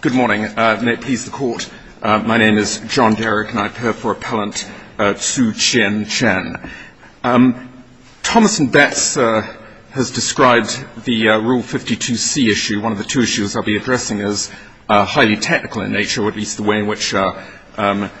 Good morning. May it please the Court, my name is John Derrick and I appear for Appellant Tzu Chin Chen. Thomas & Betts has described the Rule 52C issue, one of the two issues I'll be addressing, as highly technical in nature, or at least the way in which I've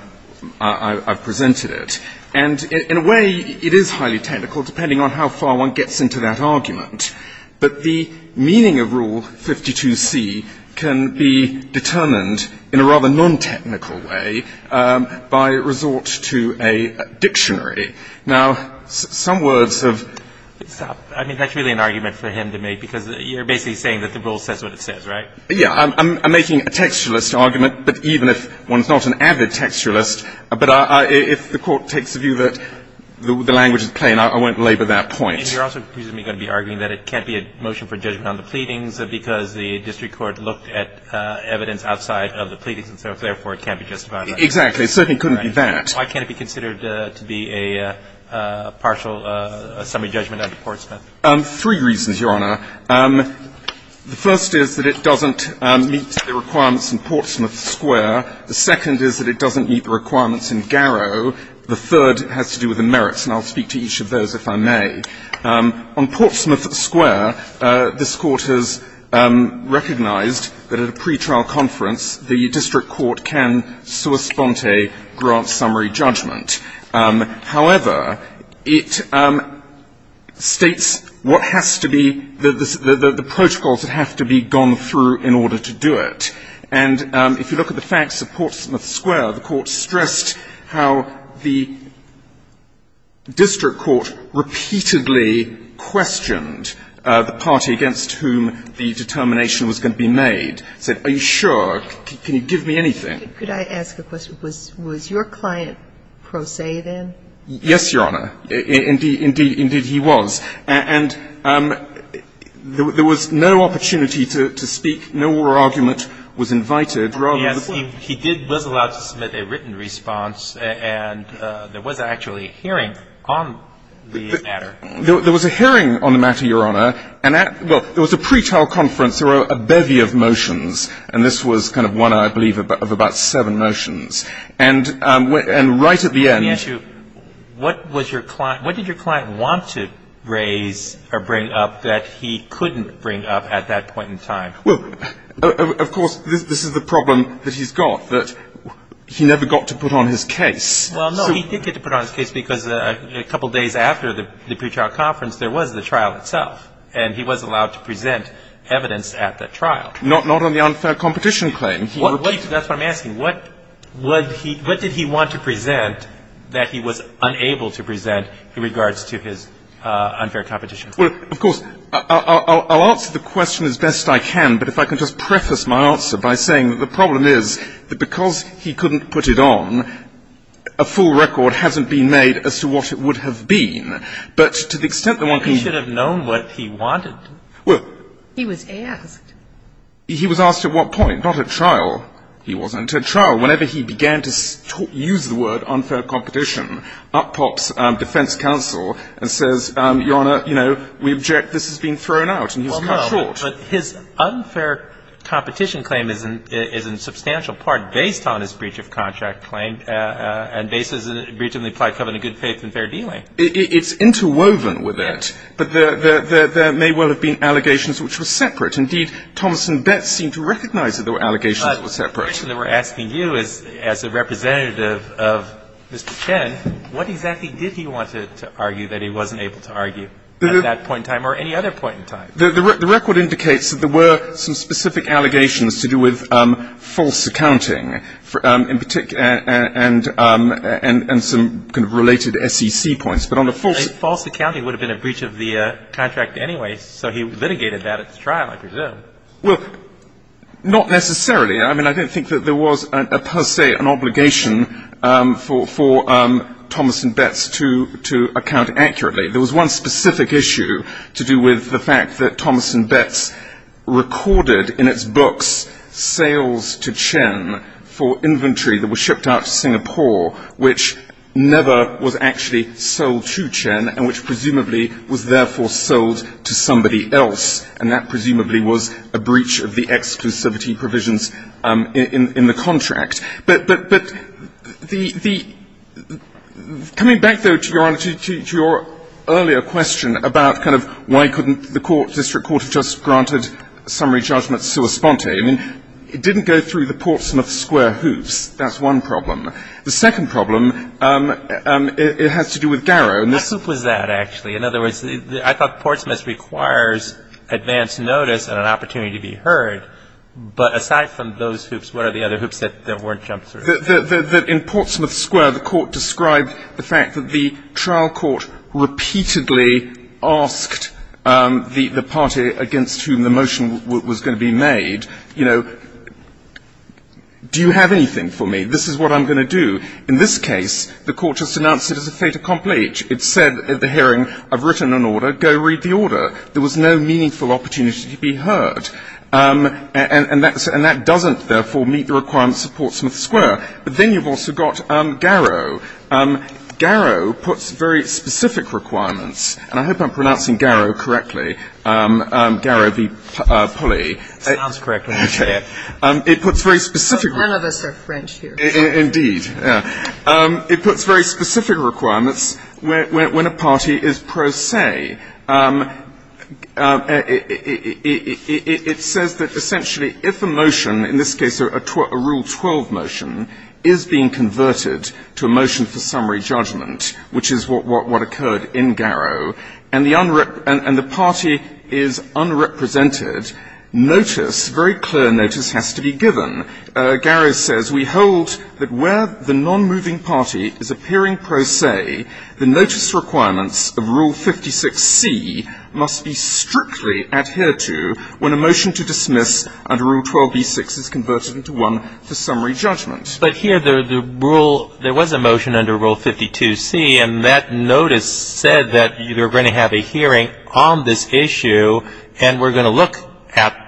presented it. And in a way, it is highly technical, depending on how far one gets into that argument. But the meaning of Rule 52C can be determined in a rather non-technical way by resort to a dictionary. Now, some words have – Stop. I mean, that's really an argument for him to make, because you're basically saying that the Rule says what it says, right? Yeah. I'm making a textualist argument, but even if one's not an avid textualist, but if the Court takes the view that the language is plain, I won't labor that point. And you're also presumably going to be arguing that it can't be a motion for judgment on the pleadings because the district court looked at evidence outside of the pleadings, and so, therefore, it can't be justified. Exactly. It certainly couldn't be that. Why can't it be considered to be a partial summary judgment under Portsmouth? Three reasons, Your Honor. The first is that it doesn't meet the requirements in Portsmouth Square. The second is that it doesn't meet the requirements in Garrow. The third has to do with the merits, and I'll speak to each of those if I may. On Portsmouth Square, this Court has recognized that at a pretrial conference, the district court can sua sponte grant summary judgment. However, it states what has to be – the protocols that have to be gone through in order to do it. And if you look at the facts of Portsmouth Square, the Court stressed how the district court repeatedly questioned the party against whom the determination was going to be made. It said, are you sure? Can you give me anything? Could I ask a question? Was your client pro se then? Yes, Your Honor. Indeed he was. And there was no opportunity to speak, no oral argument was invited. Yes, he did – was allowed to submit a written response, and there was actually a hearing on the matter. There was a hearing on the matter, Your Honor. And at – well, it was a pretrial conference. There were a bevy of motions, and this was kind of one, I believe, of about seven motions. And right at the end – Let me ask you, what was your client – what did your client want to raise or bring up that he couldn't bring up at that point in time? Well, of course, this is the problem that he's got, that he never got to put on his case. Well, no, he did get to put on his case because a couple days after the pretrial conference, there was the trial itself, and he was allowed to present evidence at that trial. Not on the unfair competition claim. That's what I'm asking. What did he want to present that he was unable to present in regards to his unfair competition claim? Well, of course, I'll answer the question as best I can, but if I can just preface my answer by saying that the problem is that because he couldn't put it on, a full record hasn't been made as to what it would have been. But to the extent that one can – He should have known what he wanted. Well – He was asked. He was asked at what point? Not at trial. He wasn't. At trial, whenever he began to use the word unfair competition, up pops defense counsel and says, Your Honor, you know, we object. This has been thrown out, and he's cut short. Well, no, but his unfair competition claim is in substantial part based on his breach of contract claim and based on the breach of the implied covenant of good faith and fair dealing. It's interwoven with that. But there may well have been allegations which were separate. Indeed, Thomas and Betz seemed to recognize that the allegations were separate. The question that we're asking you is, as a representative of Mr. Chen, what exactly did he want to argue that he wasn't able to argue at that point in time or any other point in time? The record indicates that there were some specific allegations to do with false accounting, in particular – and some kind of related SEC points. But on the false – False accounting would have been a breach of the contract anyway, so he litigated that at the trial, I presume. Well, not necessarily. I mean, I don't think that there was per se an obligation for Thomas and Betz to account accurately. There was one specific issue to do with the fact that Thomas and Betz recorded in its books sales to Chen for inventory that was shipped out to Singapore, which never was actually sold to Chen and which presumably was therefore sold to somebody else, and that presumably was a breach of the exclusivity provisions in the contract. But the – coming back, though, to your earlier question about kind of why couldn't the court, district court, have just granted summary judgment so espontaneously, I mean, it didn't go through the Portsmouth square hoops. That's one problem. The second problem, it has to do with Garrow. What hoop was that, actually? In other words, I thought Portsmouth requires advance notice and an opportunity to be heard, but aside from those hoops, what are the other hoops that weren't jumped through? In Portsmouth square, the court described the fact that the trial court repeatedly asked the party against whom the motion was going to be made, you know, do you have anything for me? This is what I'm going to do. In this case, the court just announced it as a fait accompli. It said at the hearing, I've written an order, go read the order. There was no meaningful opportunity to be heard. And that doesn't, therefore, meet the requirements of Portsmouth square. But then you've also got Garrow. Garrow puts very specific requirements, and I hope I'm pronouncing Garrow correctly, Garrow v. Pulley. Sounds correct when you say it. It puts very specific requirements. None of us are French here. Indeed. It puts very specific requirements when a party is pro se. It says that essentially if a motion, in this case a Rule 12 motion, is being converted to a motion for summary judgment, which is what occurred in Garrow, and the party is unrepresented, notice, very clear notice has to be given. Garrow says we hold that where the non-moving party is appearing pro se, the notice requirements of Rule 56C must be strictly adhered to when a motion to dismiss under Rule 12b-6 is converted into one for summary judgment. But here the rule, there was a motion under Rule 52C, and that notice said that you're going to have a hearing on this issue, and we're going to look at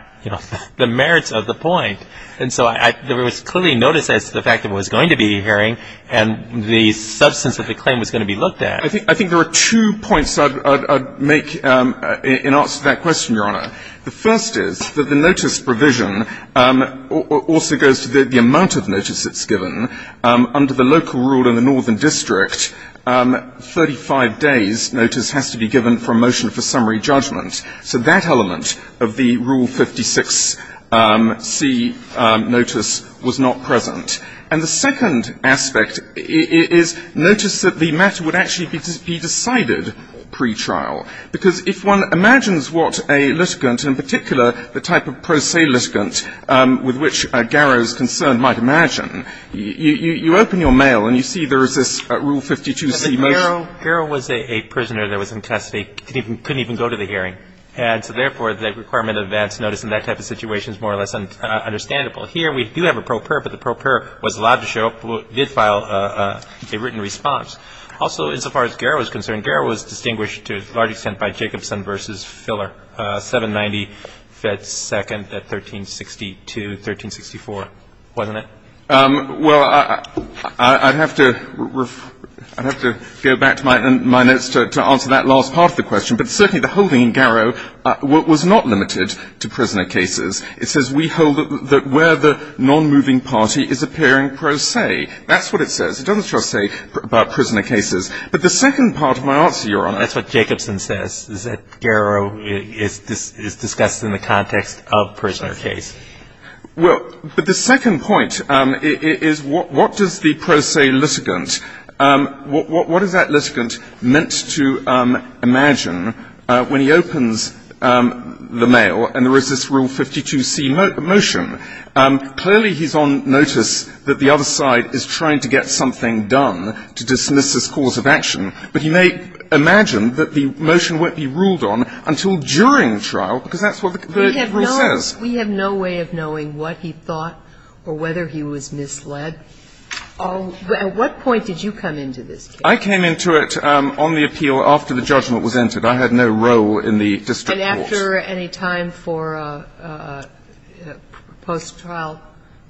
the merits of the point. And so there was clearly notice as to the fact that it was going to be a hearing, and the substance of the claim was going to be looked at. I think there are two points I'd make in answer to that question, Your Honor. The first is that the notice provision also goes to the amount of notice that's given. Under the local rule in the northern district, 35 days' notice has to be given for a motion for summary judgment. So that element of the Rule 56C notice was not present. And the second aspect is notice that the matter would actually be decided pretrial, because if one imagines what a litigant, in particular the type of pro se litigant with which Garrow is concerned might imagine, you open your mail and you see there is this Rule 52C motion. So Garrow was a prisoner that was in custody, couldn't even go to the hearing. And so therefore, the requirement of advance notice in that type of situation is more or less understandable. Here we do have a pro per, but the pro per was allowed to show up, did file a written response. Also, as far as Garrow is concerned, Garrow was distinguished to a large extent by Jacobson v. Filler, 790 Fed Second at 1362, 1364, wasn't it? Well, I'd have to go back to my notes to answer that last part of the question. But certainly the holding in Garrow was not limited to prisoner cases. It says we hold that where the nonmoving party is appearing pro se. That's what it says. It doesn't just say about prisoner cases. But the second part of my answer, Your Honor. That's what Jacobson says, is that Garrow is discussed in the context of prisoner cases. Well, but the second point is what does the pro se litigant, what is that litigant meant to imagine when he opens the mail and there is this Rule 52c motion? Clearly, he's on notice that the other side is trying to get something done to dismiss this cause of action, but he may imagine that the motion won't be ruled on until during trial, because that's what the rule says. We have no way of knowing what he thought or whether he was misled. At what point did you come into this case? I came into it on the appeal after the judgment was entered. I had no role in the district court. And after any time for post-trial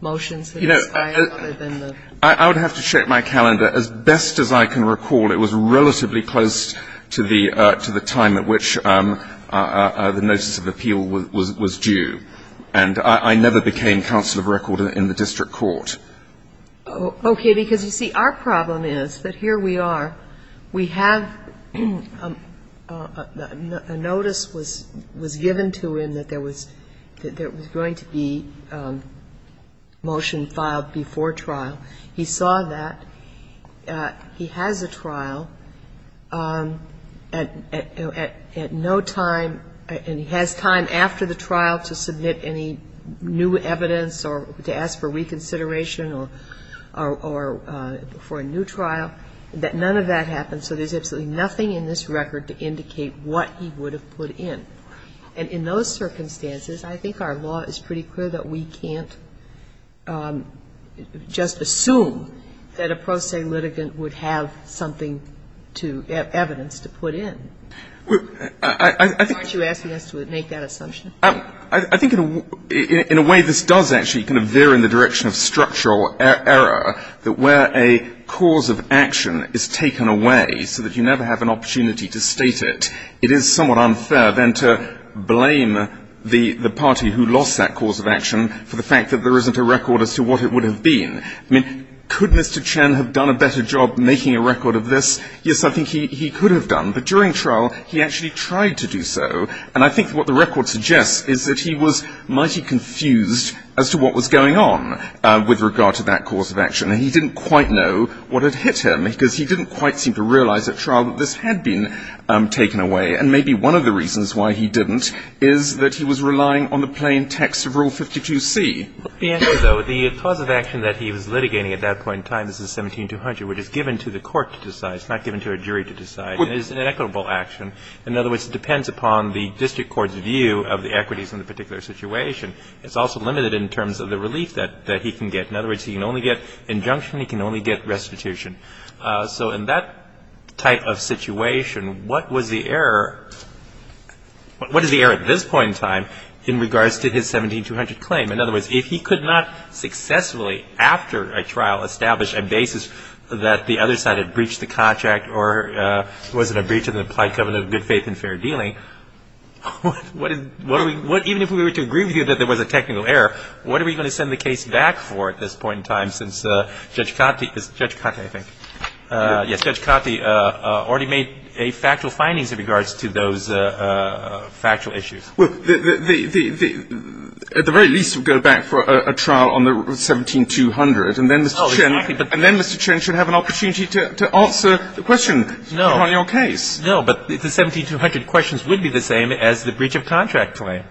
motions that expired other than the ---- You know, I would have to check my calendar. As best as I can recall, it was relatively close to the time at which the notice of appeal was due. And I never became counsel of record in the district court. Okay. Because, you see, our problem is that here we are. We have a notice was given to him that there was going to be motion filed before trial. He saw that. He has a trial at no time, and he has time after the trial to submit any new evidence or to ask for reconsideration or for a new trial, that none of that happened. So there's absolutely nothing in this record to indicate what he would have put in. And in those circumstances, I think our law is pretty clear that we can't just assume that a pro se litigant would have something to evidence to put in. Aren't you asking us to make that assumption? I think in a way this does actually kind of veer in the direction of structural error, that where a cause of action is taken away so that you never have an opportunity to state it, it is somewhat unfair then to blame the party who lost that cause of action for the fact that there isn't a record as to what it would have been. I mean, could Mr. Chen have done a better job making a record of this? Yes, I think he could have done. But during trial, he actually tried to do so. And I think what the record suggests is that he was mighty confused as to what was going on with regard to that cause of action. And he didn't quite know what had hit him, because he didn't quite seem to realize at trial that this had been taken away. And maybe one of the reasons why he didn't is that he was relying on the plain text of Rule 52c. The answer, though, the cause of action that he was litigating at that point in time, this is 17200, which is given to the court to decide. It's not given to a jury to decide. It is an equitable action. In other words, it depends upon the district court's view of the equities in the particular situation. It's also limited in terms of the relief that he can get. In other words, he can only get injunction. He can only get restitution. So in that type of situation, what was the error? What is the error at this point in time in regards to his 17200 claim? In other words, if he could not successfully, after a trial, establish a basis that the other side had breached the contract or was it a breach of the implied covenant of good faith and fair dealing, what even if we were to agree with you that there was a technical error, what are we going to send the case back for at this point in time since Judge Cottie already made factual findings in regards to those factual issues? Well, at the very least, we would go back for a trial on the 17200. And then Mr. Chen should have an opportunity to answer the question on your case. No. But the 17200 questions would be the same as the breach of contract claim.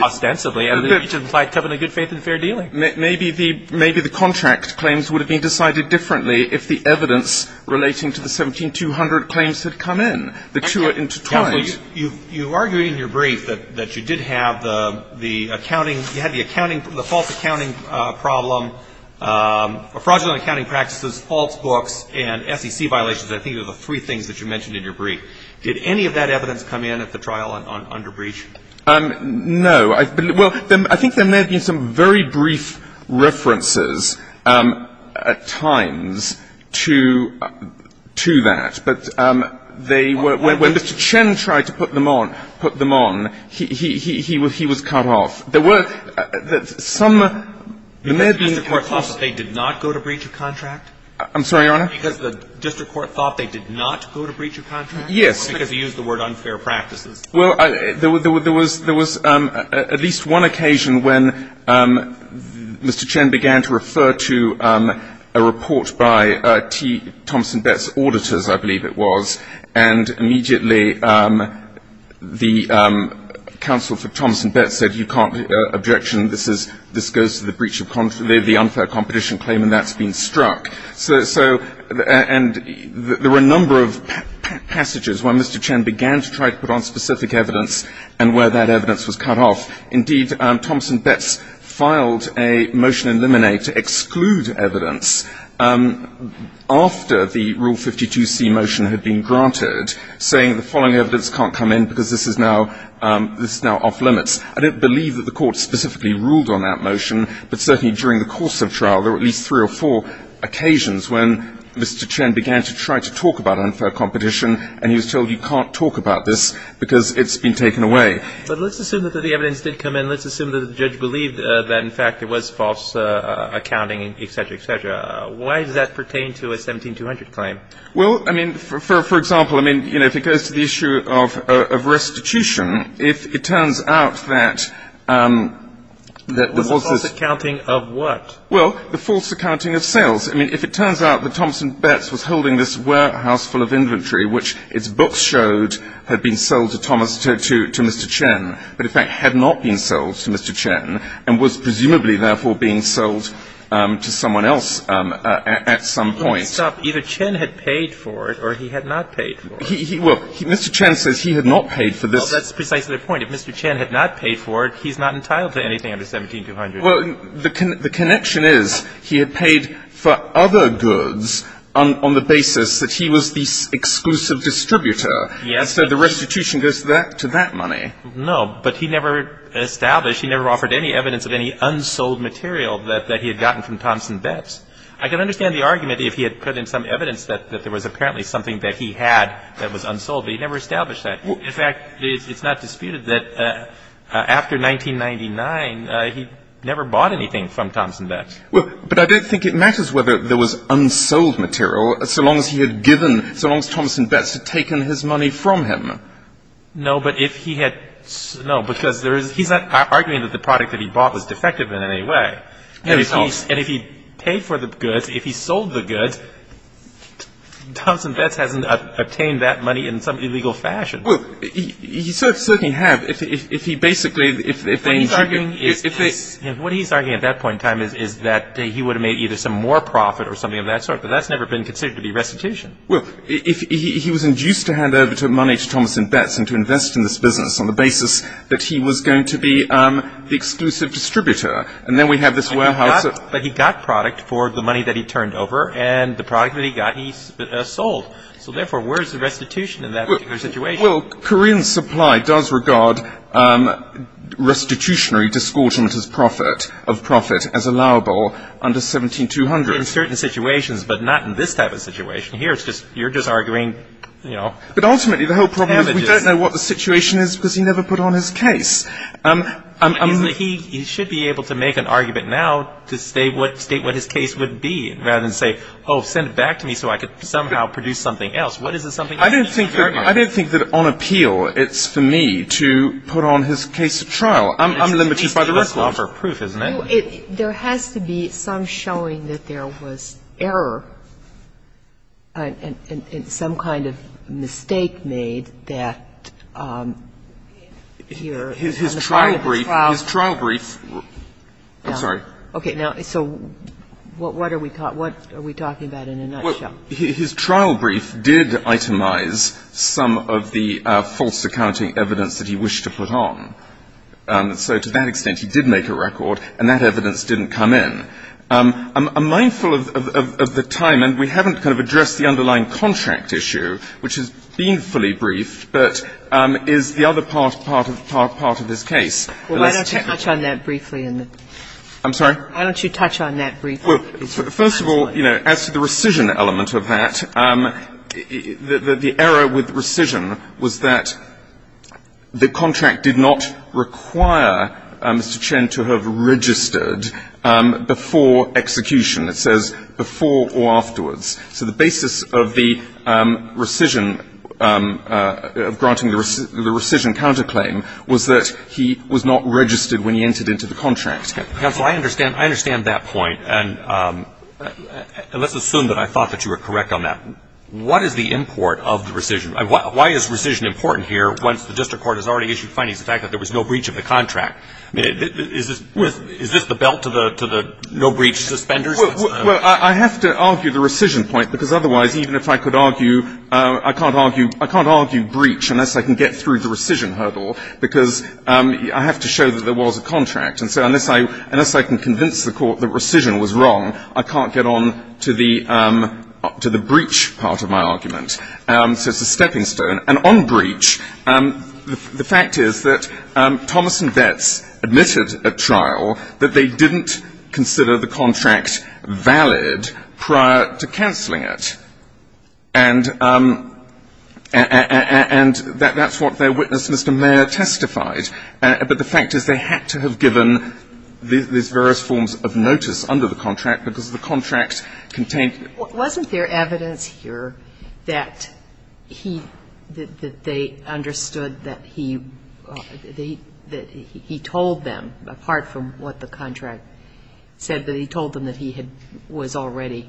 Ostensibly, the breach of implied covenant of good faith and fair dealing. Maybe the contract claims would have been decided differently if the evidence relating to the 17200 claims had come in. The two are intertwined. Well, you argued in your brief that you did have the accounting, you had the accounting from the false accounting problem, fraudulent accounting practices, false books, and SEC violations. I think those are the three things that you mentioned in your brief. Did any of that evidence come in at the trial under breach? No. Well, I think there may have been some very brief references at times to that. But they were — when Mr. Chen tried to put them on, he was cut off. There were some — Because the district court thought that they did not go to breach of contract? I'm sorry, Your Honor? Because the district court thought they did not go to breach of contract? Yes. Or because he used the word unfair practices? Well, there was at least one occasion when Mr. Chen began to refer to a report by T. Thomson Betz auditors, I believe it was, and immediately the counsel for Thomson Betz said, you can't — objection, this goes to the breach of — the unfair competition claim, and that's been struck. So — and there were a number of passages when Mr. Chen began to try to put on specific evidence and where that evidence was cut off. Indeed, Thomson Betz filed a motion in limine to exclude evidence after the Rule 52C motion had been granted, saying the following evidence can't come in because this is now off limits. I don't believe that the court specifically ruled on that motion, but certainly during the course of trial there were at least three or four occasions when Mr. Chen began to try to talk about unfair competition, and he was told you can't talk about this because it's been taken away. But let's assume that the evidence did come in. Let's assume that the judge believed that, in fact, it was false accounting, et cetera, et cetera. Why does that pertain to a 17200 claim? Well, I mean, for example, I mean, you know, if it goes to the issue of restitution, if it turns out that — The false accounting of what? Well, the false accounting of sales. I mean, if it turns out that Thomson Betz was holding this warehouse full of inventory which its books showed had been sold to Thomas, to Mr. Chen, but in fact had not been sold to Mr. Chen and was presumably, therefore, being sold to someone else at some point. Stop. Either Chen had paid for it or he had not paid for it. Well, Mr. Chen says he had not paid for this. Well, that's precisely the point. If Mr. Chen had not paid for it, he's not entitled to anything under 17200. Well, the connection is he had paid for other goods on the basis that he was the exclusive distributor. Yes. So the restitution goes to that money. No, but he never established, he never offered any evidence of any unsold material that he had gotten from Thomson Betz. I can understand the argument if he had put in some evidence that there was apparently something that he had that was unsold, but he never established that. In fact, it's not disputed that after 1999, he never bought anything from Thomson Betz. Well, but I don't think it matters whether there was unsold material so long as he had given, so long as Thomson Betz had taken his money from him. No, but if he had, no, because there is, he's not arguing that the product that he bought was defective in any way. No, he's not. And if he paid for the goods, if he sold the goods, Thomson Betz hasn't obtained that money in some illegal fashion. Well, he certainly has if he basically, if they What he's arguing at that point in time is that he would have made either some more profit or something of that sort, but that's never been considered to be restitution. Well, if he was induced to hand over money to Thomson Betz and to invest in this business on the basis that he was going to be the exclusive distributor, and then we have this warehouse But he got product for the money that he turned over, and the product that he got he sold. So therefore, where is the restitution in that particular situation? Well, Korean supply does regard restitutionary discordant of profit as allowable under 17200. In certain situations, but not in this type of situation. Here it's just, you're just arguing, you know, damages. But ultimately the whole problem is we don't know what the situation is because he never put on his case. He should be able to make an argument now to state what his case would be rather than say, Oh, send it back to me so I could somehow produce something else. What is the something else? I don't think that on appeal it's for me to put on his case at trial. I'm limited by the record. It's a case to offer proof, isn't it? There has to be some showing that there was error and some kind of mistake made that here on the part of the trial. His trial brief, his trial brief. I'm sorry. Okay. Now, so what are we talking about in a nutshell? Well, his trial brief did itemize some of the false accounting evidence that he wished to put on. So to that extent he did make a record, and that evidence didn't come in. I'm mindful of the time, and we haven't kind of addressed the underlying contract issue, which has been fully briefed, but is the other part of his case. Well, why don't you touch on that briefly? I'm sorry? Why don't you touch on that briefly? First of all, you know, as to the rescission element of that, the error with rescission was that the contract did not require Mr. Chen to have registered before execution. It says before or afterwards. So the basis of the rescission, of granting the rescission counterclaim, was that he was not registered when he entered into the contract. Counsel, I understand that point, and let's assume that I thought that you were correct on that. What is the import of the rescission? Why is rescission important here once the district court has already issued findings of the fact that there was no breach of the contract? Is this the belt to the no-breach suspenders? Well, I have to argue the rescission point, because otherwise, even if I could argue I can't argue breach unless I can get through the rescission hurdle, because I have to show that there was a contract. And so unless I can convince the court that rescission was wrong, I can't get on to the breach part of my argument. So it's a stepping stone. And on breach, the fact is that Thomas and Betts admitted at trial that they didn't consider the contract valid prior to canceling it. And that's what their witness, Mr. Mayer, testified. But the fact is they had to have given these various forms of notice under the contract because the contract contained the contract. Wasn't there evidence here that he, that they understood that he told them, apart from what the contract said, that he told them that he was already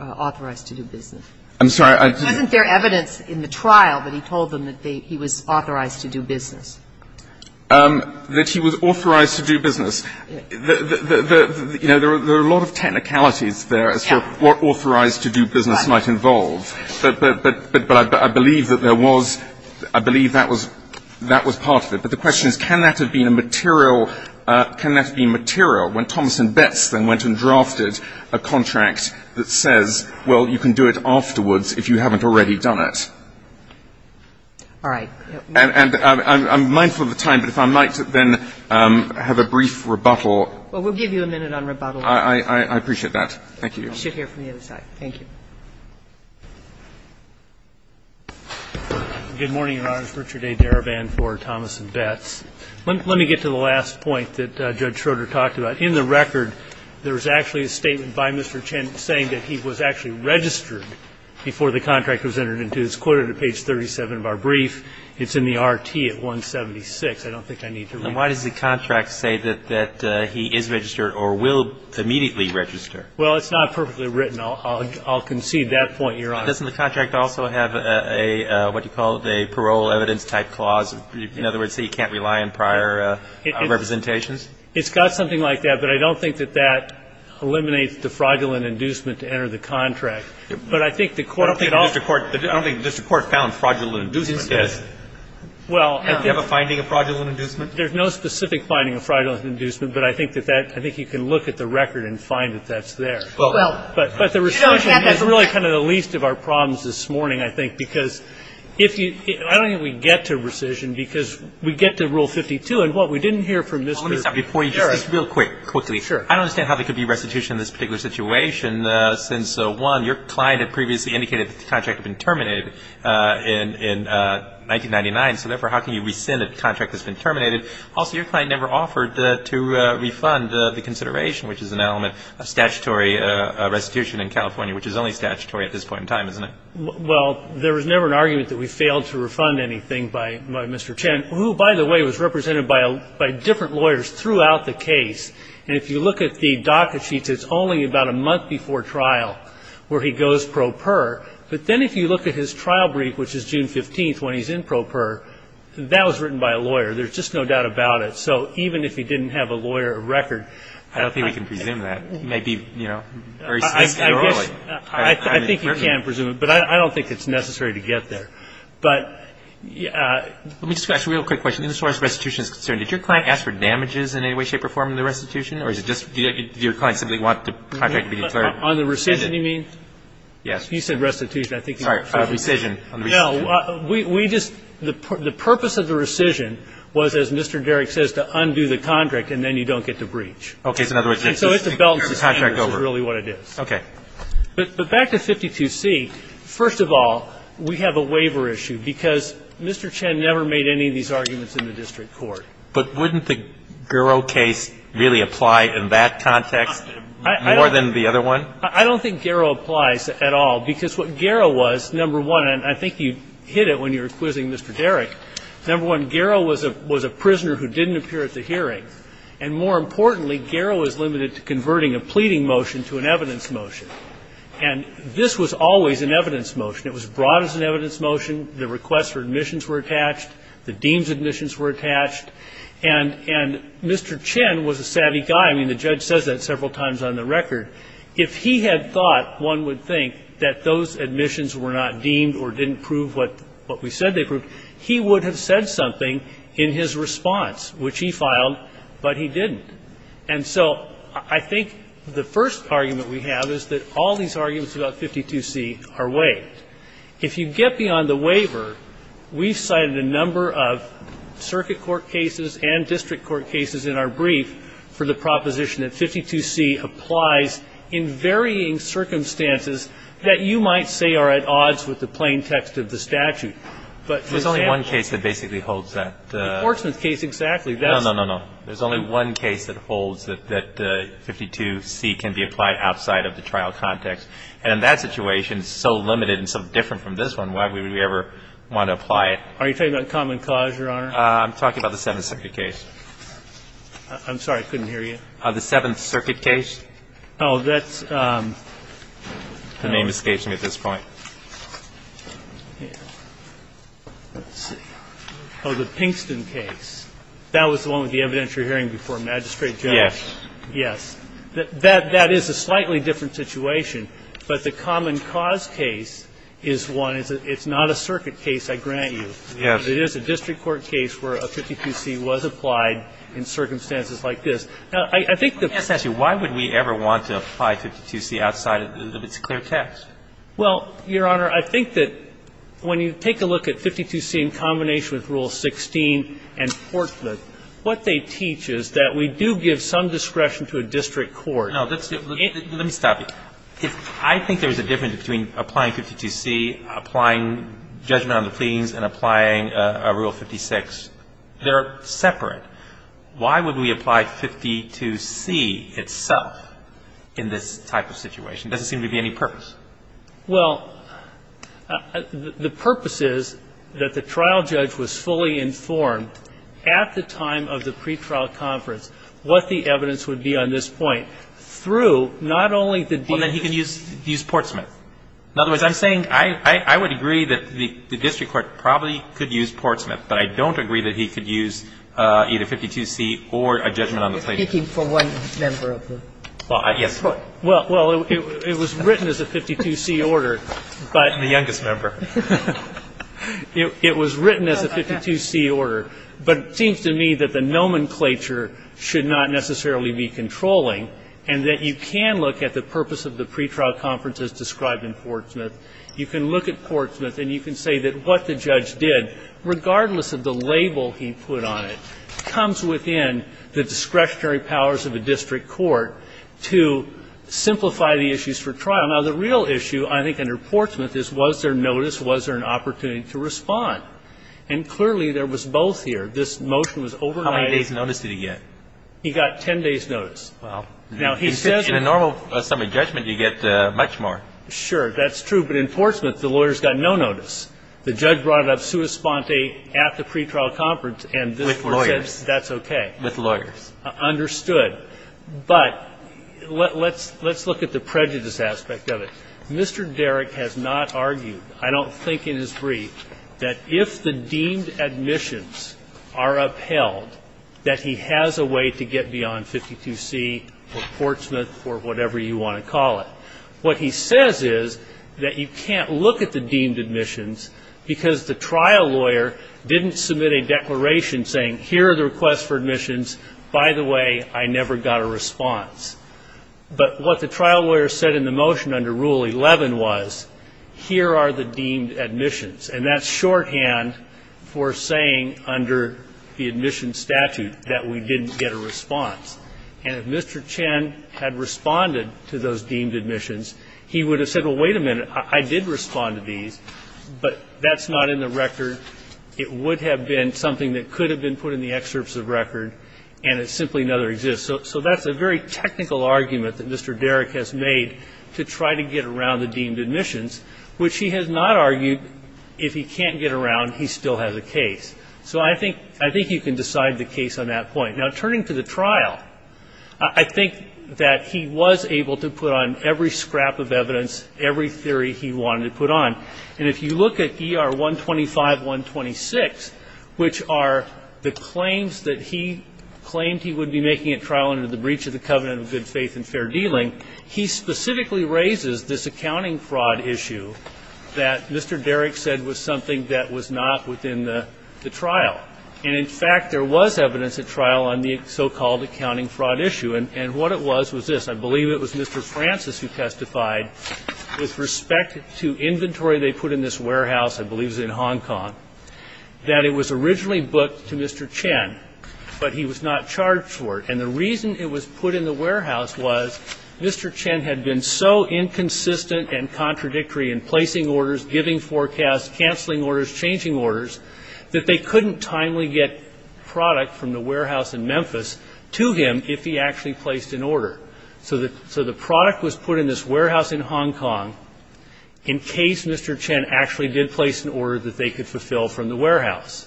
authorized to do business? I'm sorry. Wasn't there evidence in the trial that he told them that he was authorized to do business? That he was authorized to do business. You know, there are a lot of technicalities there as to what authorized to do business might involve. But I believe that there was, I believe that was part of it. But the question is, can that have been a material, can that have been material when Thomas and Betts then went and drafted a contract that says, well, you can do it afterwards if you haven't already done it? All right. And I'm mindful of the time, but if I might then have a brief rebuttal. Well, we'll give you a minute on rebuttal. I appreciate that. Thank you. We'll sit here from the other side. Thank you. Good morning, Your Honors. Richard A. Darabin for Thomas and Betts. Let me get to the last point that Judge Schroeder talked about. In the record, there was actually a statement by Mr. Chen saying that he was actually registered before the contract was entered into. It's quoted at page 37 of our brief. It's in the R.T. at 176. I don't think I need to read that. And why does the contract say that he is registered or will immediately register? Well, it's not perfectly written. I'll concede that point, Your Honor. Doesn't the contract also have a, what do you call it, a parole evidence type clause? In other words, he can't rely on prior representations? It's got something like that. But I don't think that that eliminates the fraudulent inducement to enter the contract. But I think the court could also ---- I don't think the district court found fraudulent inducement. Yes, it did. Well ---- Don't you have a finding of fraudulent inducement? There's no specific finding of fraudulent inducement. But I think you can look at the record and find that that's there. But the rescission is really kind of the least of our problems this morning, I think, because if you ---- I don't think we get to rescission because we get to Rule 52. And, what, we didn't hear from Mr. ---- Let me stop you before you just real quick, quickly. Sure. I don't understand how there could be restitution in this particular situation since, one, your client had previously indicated that the contract had been terminated in 1999. So, therefore, how can you rescind a contract that's been terminated? Also, your client never offered to refund the consideration, which is an element of statutory restitution in California, which is only statutory at this point in time, isn't it? Well, there was never an argument that we failed to refund anything by Mr. Chen, who, by the way, was represented by different lawyers throughout the case. And if you look at the DACA sheets, it's only about a month before trial where he goes pro per. But then if you look at his trial brief, which is June 15th, when he's in pro per, that was written by a lawyer. There's just no doubt about it. So even if he didn't have a lawyer record ---- I don't think we can presume that. He may be, you know, very statutorily. I think you can presume it. But I don't think it's necessary to get there. But ---- Let me just ask a real quick question. As far as restitution is concerned, did your client ask for damages in any way, shape, or form in the restitution? Or is it just your client simply wanted the contract to be declared? On the rescission, you mean? Yes. You said restitution. I think you said ---- Sorry. On the rescission. No. We just ---- the purpose of the rescission was, as Mr. Derrick says, to undo the contract, and then you don't get the breach. So in other words ---- And so it's a balance of favors is really what it is. Okay. But back to 52C. First of all, we have a waiver issue because Mr. Chen never made any of these arguments in the district court. But wouldn't the Garrow case really apply in that context more than the other one? I don't think Garrow applies at all, because what Garrow was, number one, and I think you hit it when you were quizzing Mr. Derrick. Number one, Garrow was a prisoner who didn't appear at the hearing. And more importantly, Garrow is limited to converting a pleading motion to an evidence motion. And this was always an evidence motion. It was brought as an evidence motion. The requests for admissions were attached. The deems admissions were attached. And Mr. Chen was a savvy guy. I mean, the judge says that several times on the record. If he had thought, one would think, that those admissions were not deemed or didn't prove what we said they proved, he would have said something in his response, which he filed not, but he didn't. And so I think the first argument we have is that all these arguments about 52C are weighed. If you get beyond the waiver, we've cited a number of circuit court cases and district court cases in our brief for the proposition that 52C applies in varying circumstances that you might say are at odds with the plain text of the statute. But for example ---- But there's only one case that basically holds that ---- The Portsmouth case, exactly. No, no, no. There's only one case that holds that 52C can be applied outside of the trial context. And in that situation, it's so limited and so different from this one, why would we ever want to apply it? Are you talking about common cause, Your Honor? I'm talking about the Seventh Circuit case. I'm sorry. I couldn't hear you. The Seventh Circuit case. Oh, that's ---- The name escapes me at this point. Let's see. Oh, the Pinkston case. That was the one with the evidentiary hearing before Magistrate General. Yes. Yes. That is a slightly different situation. But the common cause case is one. It's not a circuit case, I grant you. Yes. It is a district court case where a 52C was applied in circumstances like this. Now, I think the ---- Let me ask you, why would we ever want to apply 52C outside of its clear text? Well, Your Honor, I think that when you take a look at 52C in combination with Rule 16 and Forthwith, what they teach is that we do give some discretion to a district court. No, let's see. Let me stop you. I think there's a difference between applying 52C, applying judgment on the pleadings, and applying a Rule 56. They're separate. Why would we apply 52C itself in this type of situation? It doesn't seem to be any purpose. Well, the purpose is that the trial judge was fully informed at the time of the pretrial conference what the evidence would be on this point through not only the ---- Well, then he could use Portsmouth. In other words, I'm saying I would agree that the district court probably could use Portsmouth, but I don't agree that he could use either 52C or a judgment on the pleadings. You're speaking for one member of the court. Well, yes. Well, it was written as a 52C order, but ---- The youngest member. It was written as a 52C order. But it seems to me that the nomenclature should not necessarily be controlling and that you can look at the purpose of the pretrial conference as described in Portsmouth. You can look at Portsmouth and you can say that what the judge did, regardless of the label he put on it, comes within the discretionary powers of a district court to simplify the issues for trial. Now, the real issue, I think, under Portsmouth is was there notice, was there an opportunity to respond? And clearly there was both here. This motion was overnight. How many days' notice did he get? He got 10 days' notice. Well, in a normal summary judgment, you get much more. Sure. That's true. But in Portsmouth, the lawyers got no notice. The judge brought it up sua sponte at the pretrial conference and this court says that's okay. With lawyers. Understood. But let's look at the prejudice aspect of it. Mr. Derrick has not argued, I don't think in his brief, that if the deemed admissions are upheld, that he has a way to get beyond 52C or Portsmouth or whatever you want to call it. What he says is that you can't look at the deemed admissions because the trial lawyer didn't submit a declaration saying here are the requests for admissions. By the way, I never got a response. But what the trial lawyer said in the motion under Rule 11 was here are the deemed admissions. And that's shorthand for saying under the admissions statute that we didn't get a response. And if Mr. Chen had responded to those deemed admissions, he would have said, well, wait a minute, I did respond to these. But that's not in the record. It would have been something that could have been put in the excerpts of record and it simply never exists. So that's a very technical argument that Mr. Derrick has made to try to get around the deemed admissions, which he has not argued if he can't get around, he still has a case. So I think you can decide the case on that point. Now, turning to the trial, I think that he was able to put on every scrap of evidence, every theory he wanted to put on. And if you look at ER 125-126, which are the claims that he claimed he would be making at trial under the breach of the covenant of good faith and fair dealing, he specifically raises this accounting fraud issue that Mr. Derrick said was something that was not within the trial. And, in fact, there was evidence at trial on the so-called accounting fraud issue. And what it was was this. I believe it was Mr. Francis who testified with respect to inventory they put in this warehouse, I believe it was in Hong Kong, that it was originally booked to Mr. Chen, but he was not charged for it. And the reason it was put in the warehouse was Mr. Chen had been so inconsistent and contradictory in placing orders, giving forecasts, canceling orders, changing orders, that they couldn't timely get product from the warehouse in Memphis to him if he actually placed an order. So the product was put in this warehouse in Hong Kong in case Mr. Chen actually did place an order that they could fulfill from the warehouse.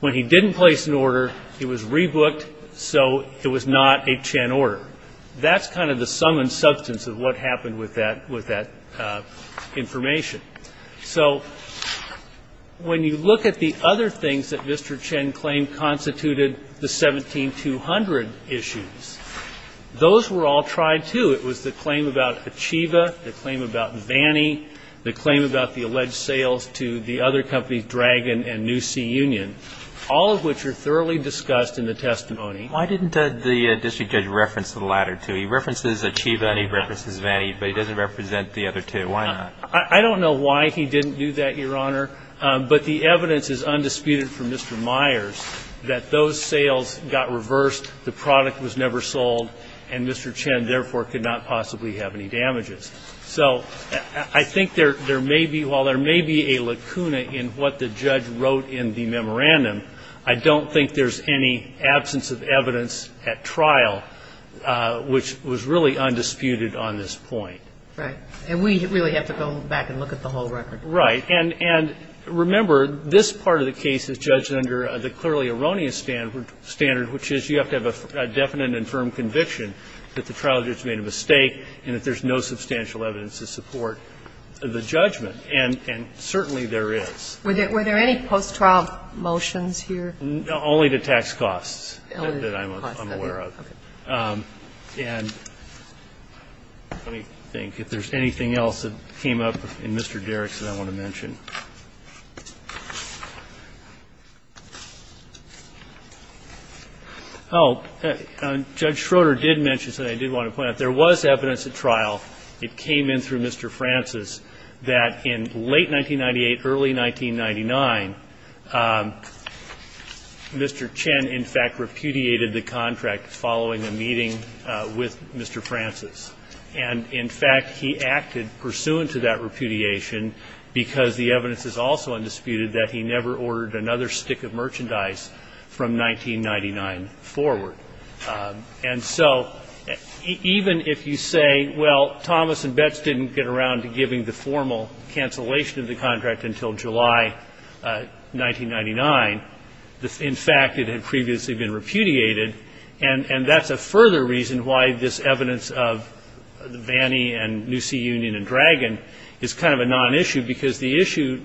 When he didn't place an order, it was rebooked, so it was not a Chen order. That's kind of the sum and substance of what happened with that information. So when you look at the other things that Mr. Chen claimed constituted the 17-200 issues, those were all tried, too. It was the claim about Achieva, the claim about Vannie, the claim about the alleged sales to the other companies, Dragon and New Sea Union, all of which are thoroughly discussed in the testimony. Why didn't the district judge reference the latter two? He references Achieva and he references Vannie, but he doesn't represent the other two. Why not? I don't know why he didn't do that, Your Honor, but the evidence is undisputed from Mr. Myers that those sales got reversed, the product was never sold, and Mr. Chen, therefore, could not possibly have any damages. So I think there may be, while there may be a lacuna in what the judge wrote in the memorandum, I don't think there's any absence of evidence at trial which was really undisputed on this point. Right. And we really have to go back and look at the whole record. Right. And remember, this part of the case is judged under the clearly erroneous standard, which is you have to have a definite and firm conviction that the trial judge made a mistake and that there's no substantial evidence to support the judgment. And certainly there is. Were there any post-trial motions here? Only the tax costs that I'm aware of. Okay. And let me think. If there's anything else that came up in Mr. Derrick's that I want to mention. Oh, Judge Schroeder did mention something I did want to point out. There was evidence at trial. It came in through Mr. Francis that in late 1998, early 1999, Mr. Chen, in fact, repudiated the contract following a meeting with Mr. Francis. And, in fact, he acted pursuant to that repudiation because the evidence is also undisputed that he never ordered another stick of merchandise from 1999 forward. And so even if you say, well, Thomas and Betts didn't get around to giving the formal cancellation of the contract until July 1999, in fact, it had previously been repudiated. And that's a further reason why this evidence of Vannie and New Sea Union and Dragon is kind of a non-issue because the issue,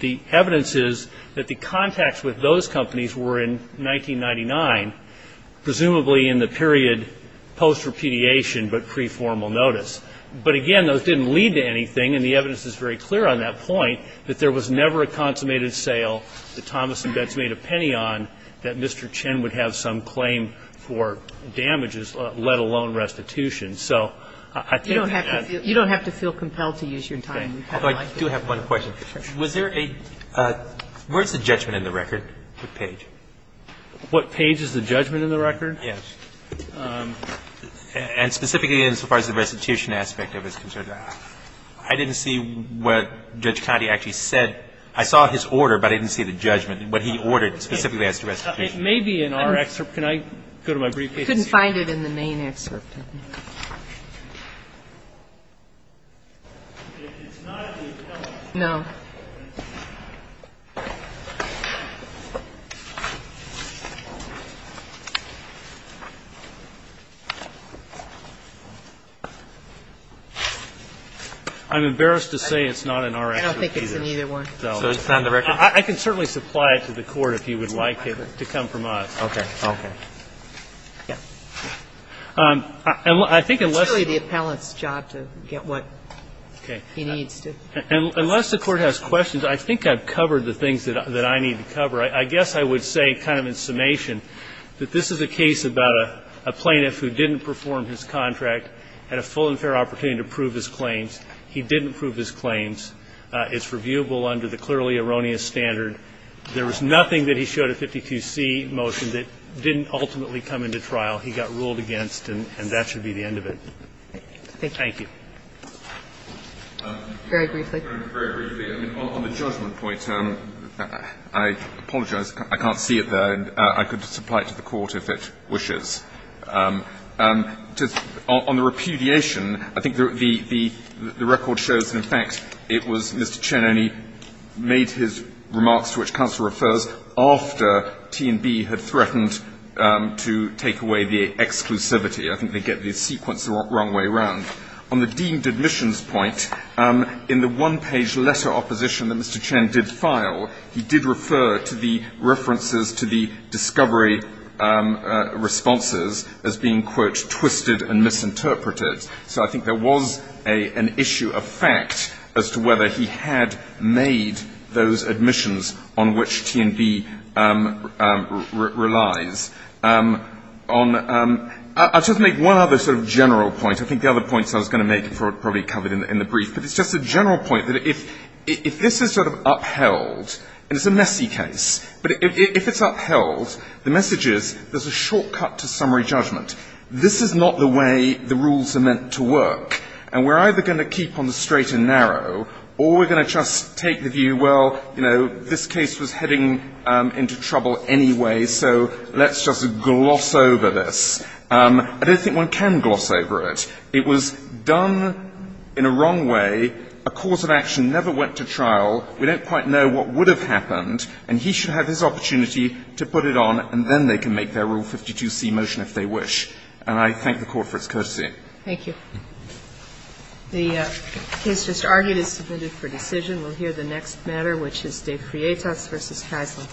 the evidence is that the contacts with those companies were in 1999, presumably in the period post-repudiation but pre-formal notice. But, again, those didn't lead to anything. And the evidence is very clear on that point, that there was never a consummated sale that Thomas and Betts made a penny on that Mr. Chen would have some claim for damages, let alone restitution. So I think that that's the case. You don't have to feel compelled to use your time. I do have one question. Sure. Was there a – where's the judgment in the record for Page? What page is the judgment in the record? Yes. And specifically in so far as the restitution aspect of it is concerned, I didn't see what Judge Kennedy actually said. I saw his order, but I didn't see the judgment, what he ordered specifically as to restitution. It may be in our excerpt. Can I go to my briefcase here? I couldn't find it in the main excerpt. No. I'm embarrassed to say it's not in our excerpt either. I don't think it's in either one. So it's not in the record? I can certainly supply it to the Court if you would like it to come from us. Okay. Okay. Yeah. I think unless you – It's really the appellant's job to get what he needs. Unless the Court has questions, I think I've covered the things that I need to cover. I guess I would say kind of in summation that this is a case about a plaintiff who didn't perform his contract, had a full and fair opportunity to prove his claims. He didn't prove his claims. It's reviewable under the clearly erroneous standard. There was nothing that he showed at 52C motion that didn't ultimately come into trial. He got ruled against, and that should be the end of it. Thank you. Very briefly. Very briefly. On the judgment point, I apologize. I can't see it there. I could supply it to the Court if it wishes. On the repudiation, I think the record shows that, in fact, it was Mr. Chen only made his remarks to which counsel refers after T&B had threatened to take away the exclusivity. I think they get the sequence the wrong way around. On the deemed admissions point, in the one-page letter opposition that Mr. Chen did file, he did refer to the references to the discovery responses as being, quote, twisted and misinterpreted. So I think there was an issue of fact as to whether he had made those admissions on which T&B relies. I'll just make one other sort of general point. I think the other points I was going to make are probably covered in the brief. But it's just a general point that if this is sort of upheld, and it's a messy case, but if it's upheld, the message is there's a shortcut to summary judgment. This is not the way the rules are meant to work. And we're either going to keep on the straight and narrow, or we're going to just take the view, well, you know, this case was heading into trouble anyway, so let's just gloss over this. I don't think one can gloss over it. It was done in a wrong way. A cause of action never went to trial. We don't quite know what would have happened. And he should have his opportunity to put it on, and then they can make their Rule 52c motion if they wish. And I thank the Court for its courtesy. Thank you. The case just argued is submitted for decision. We'll hear the next matter, which is De Crietas v. Kaisler.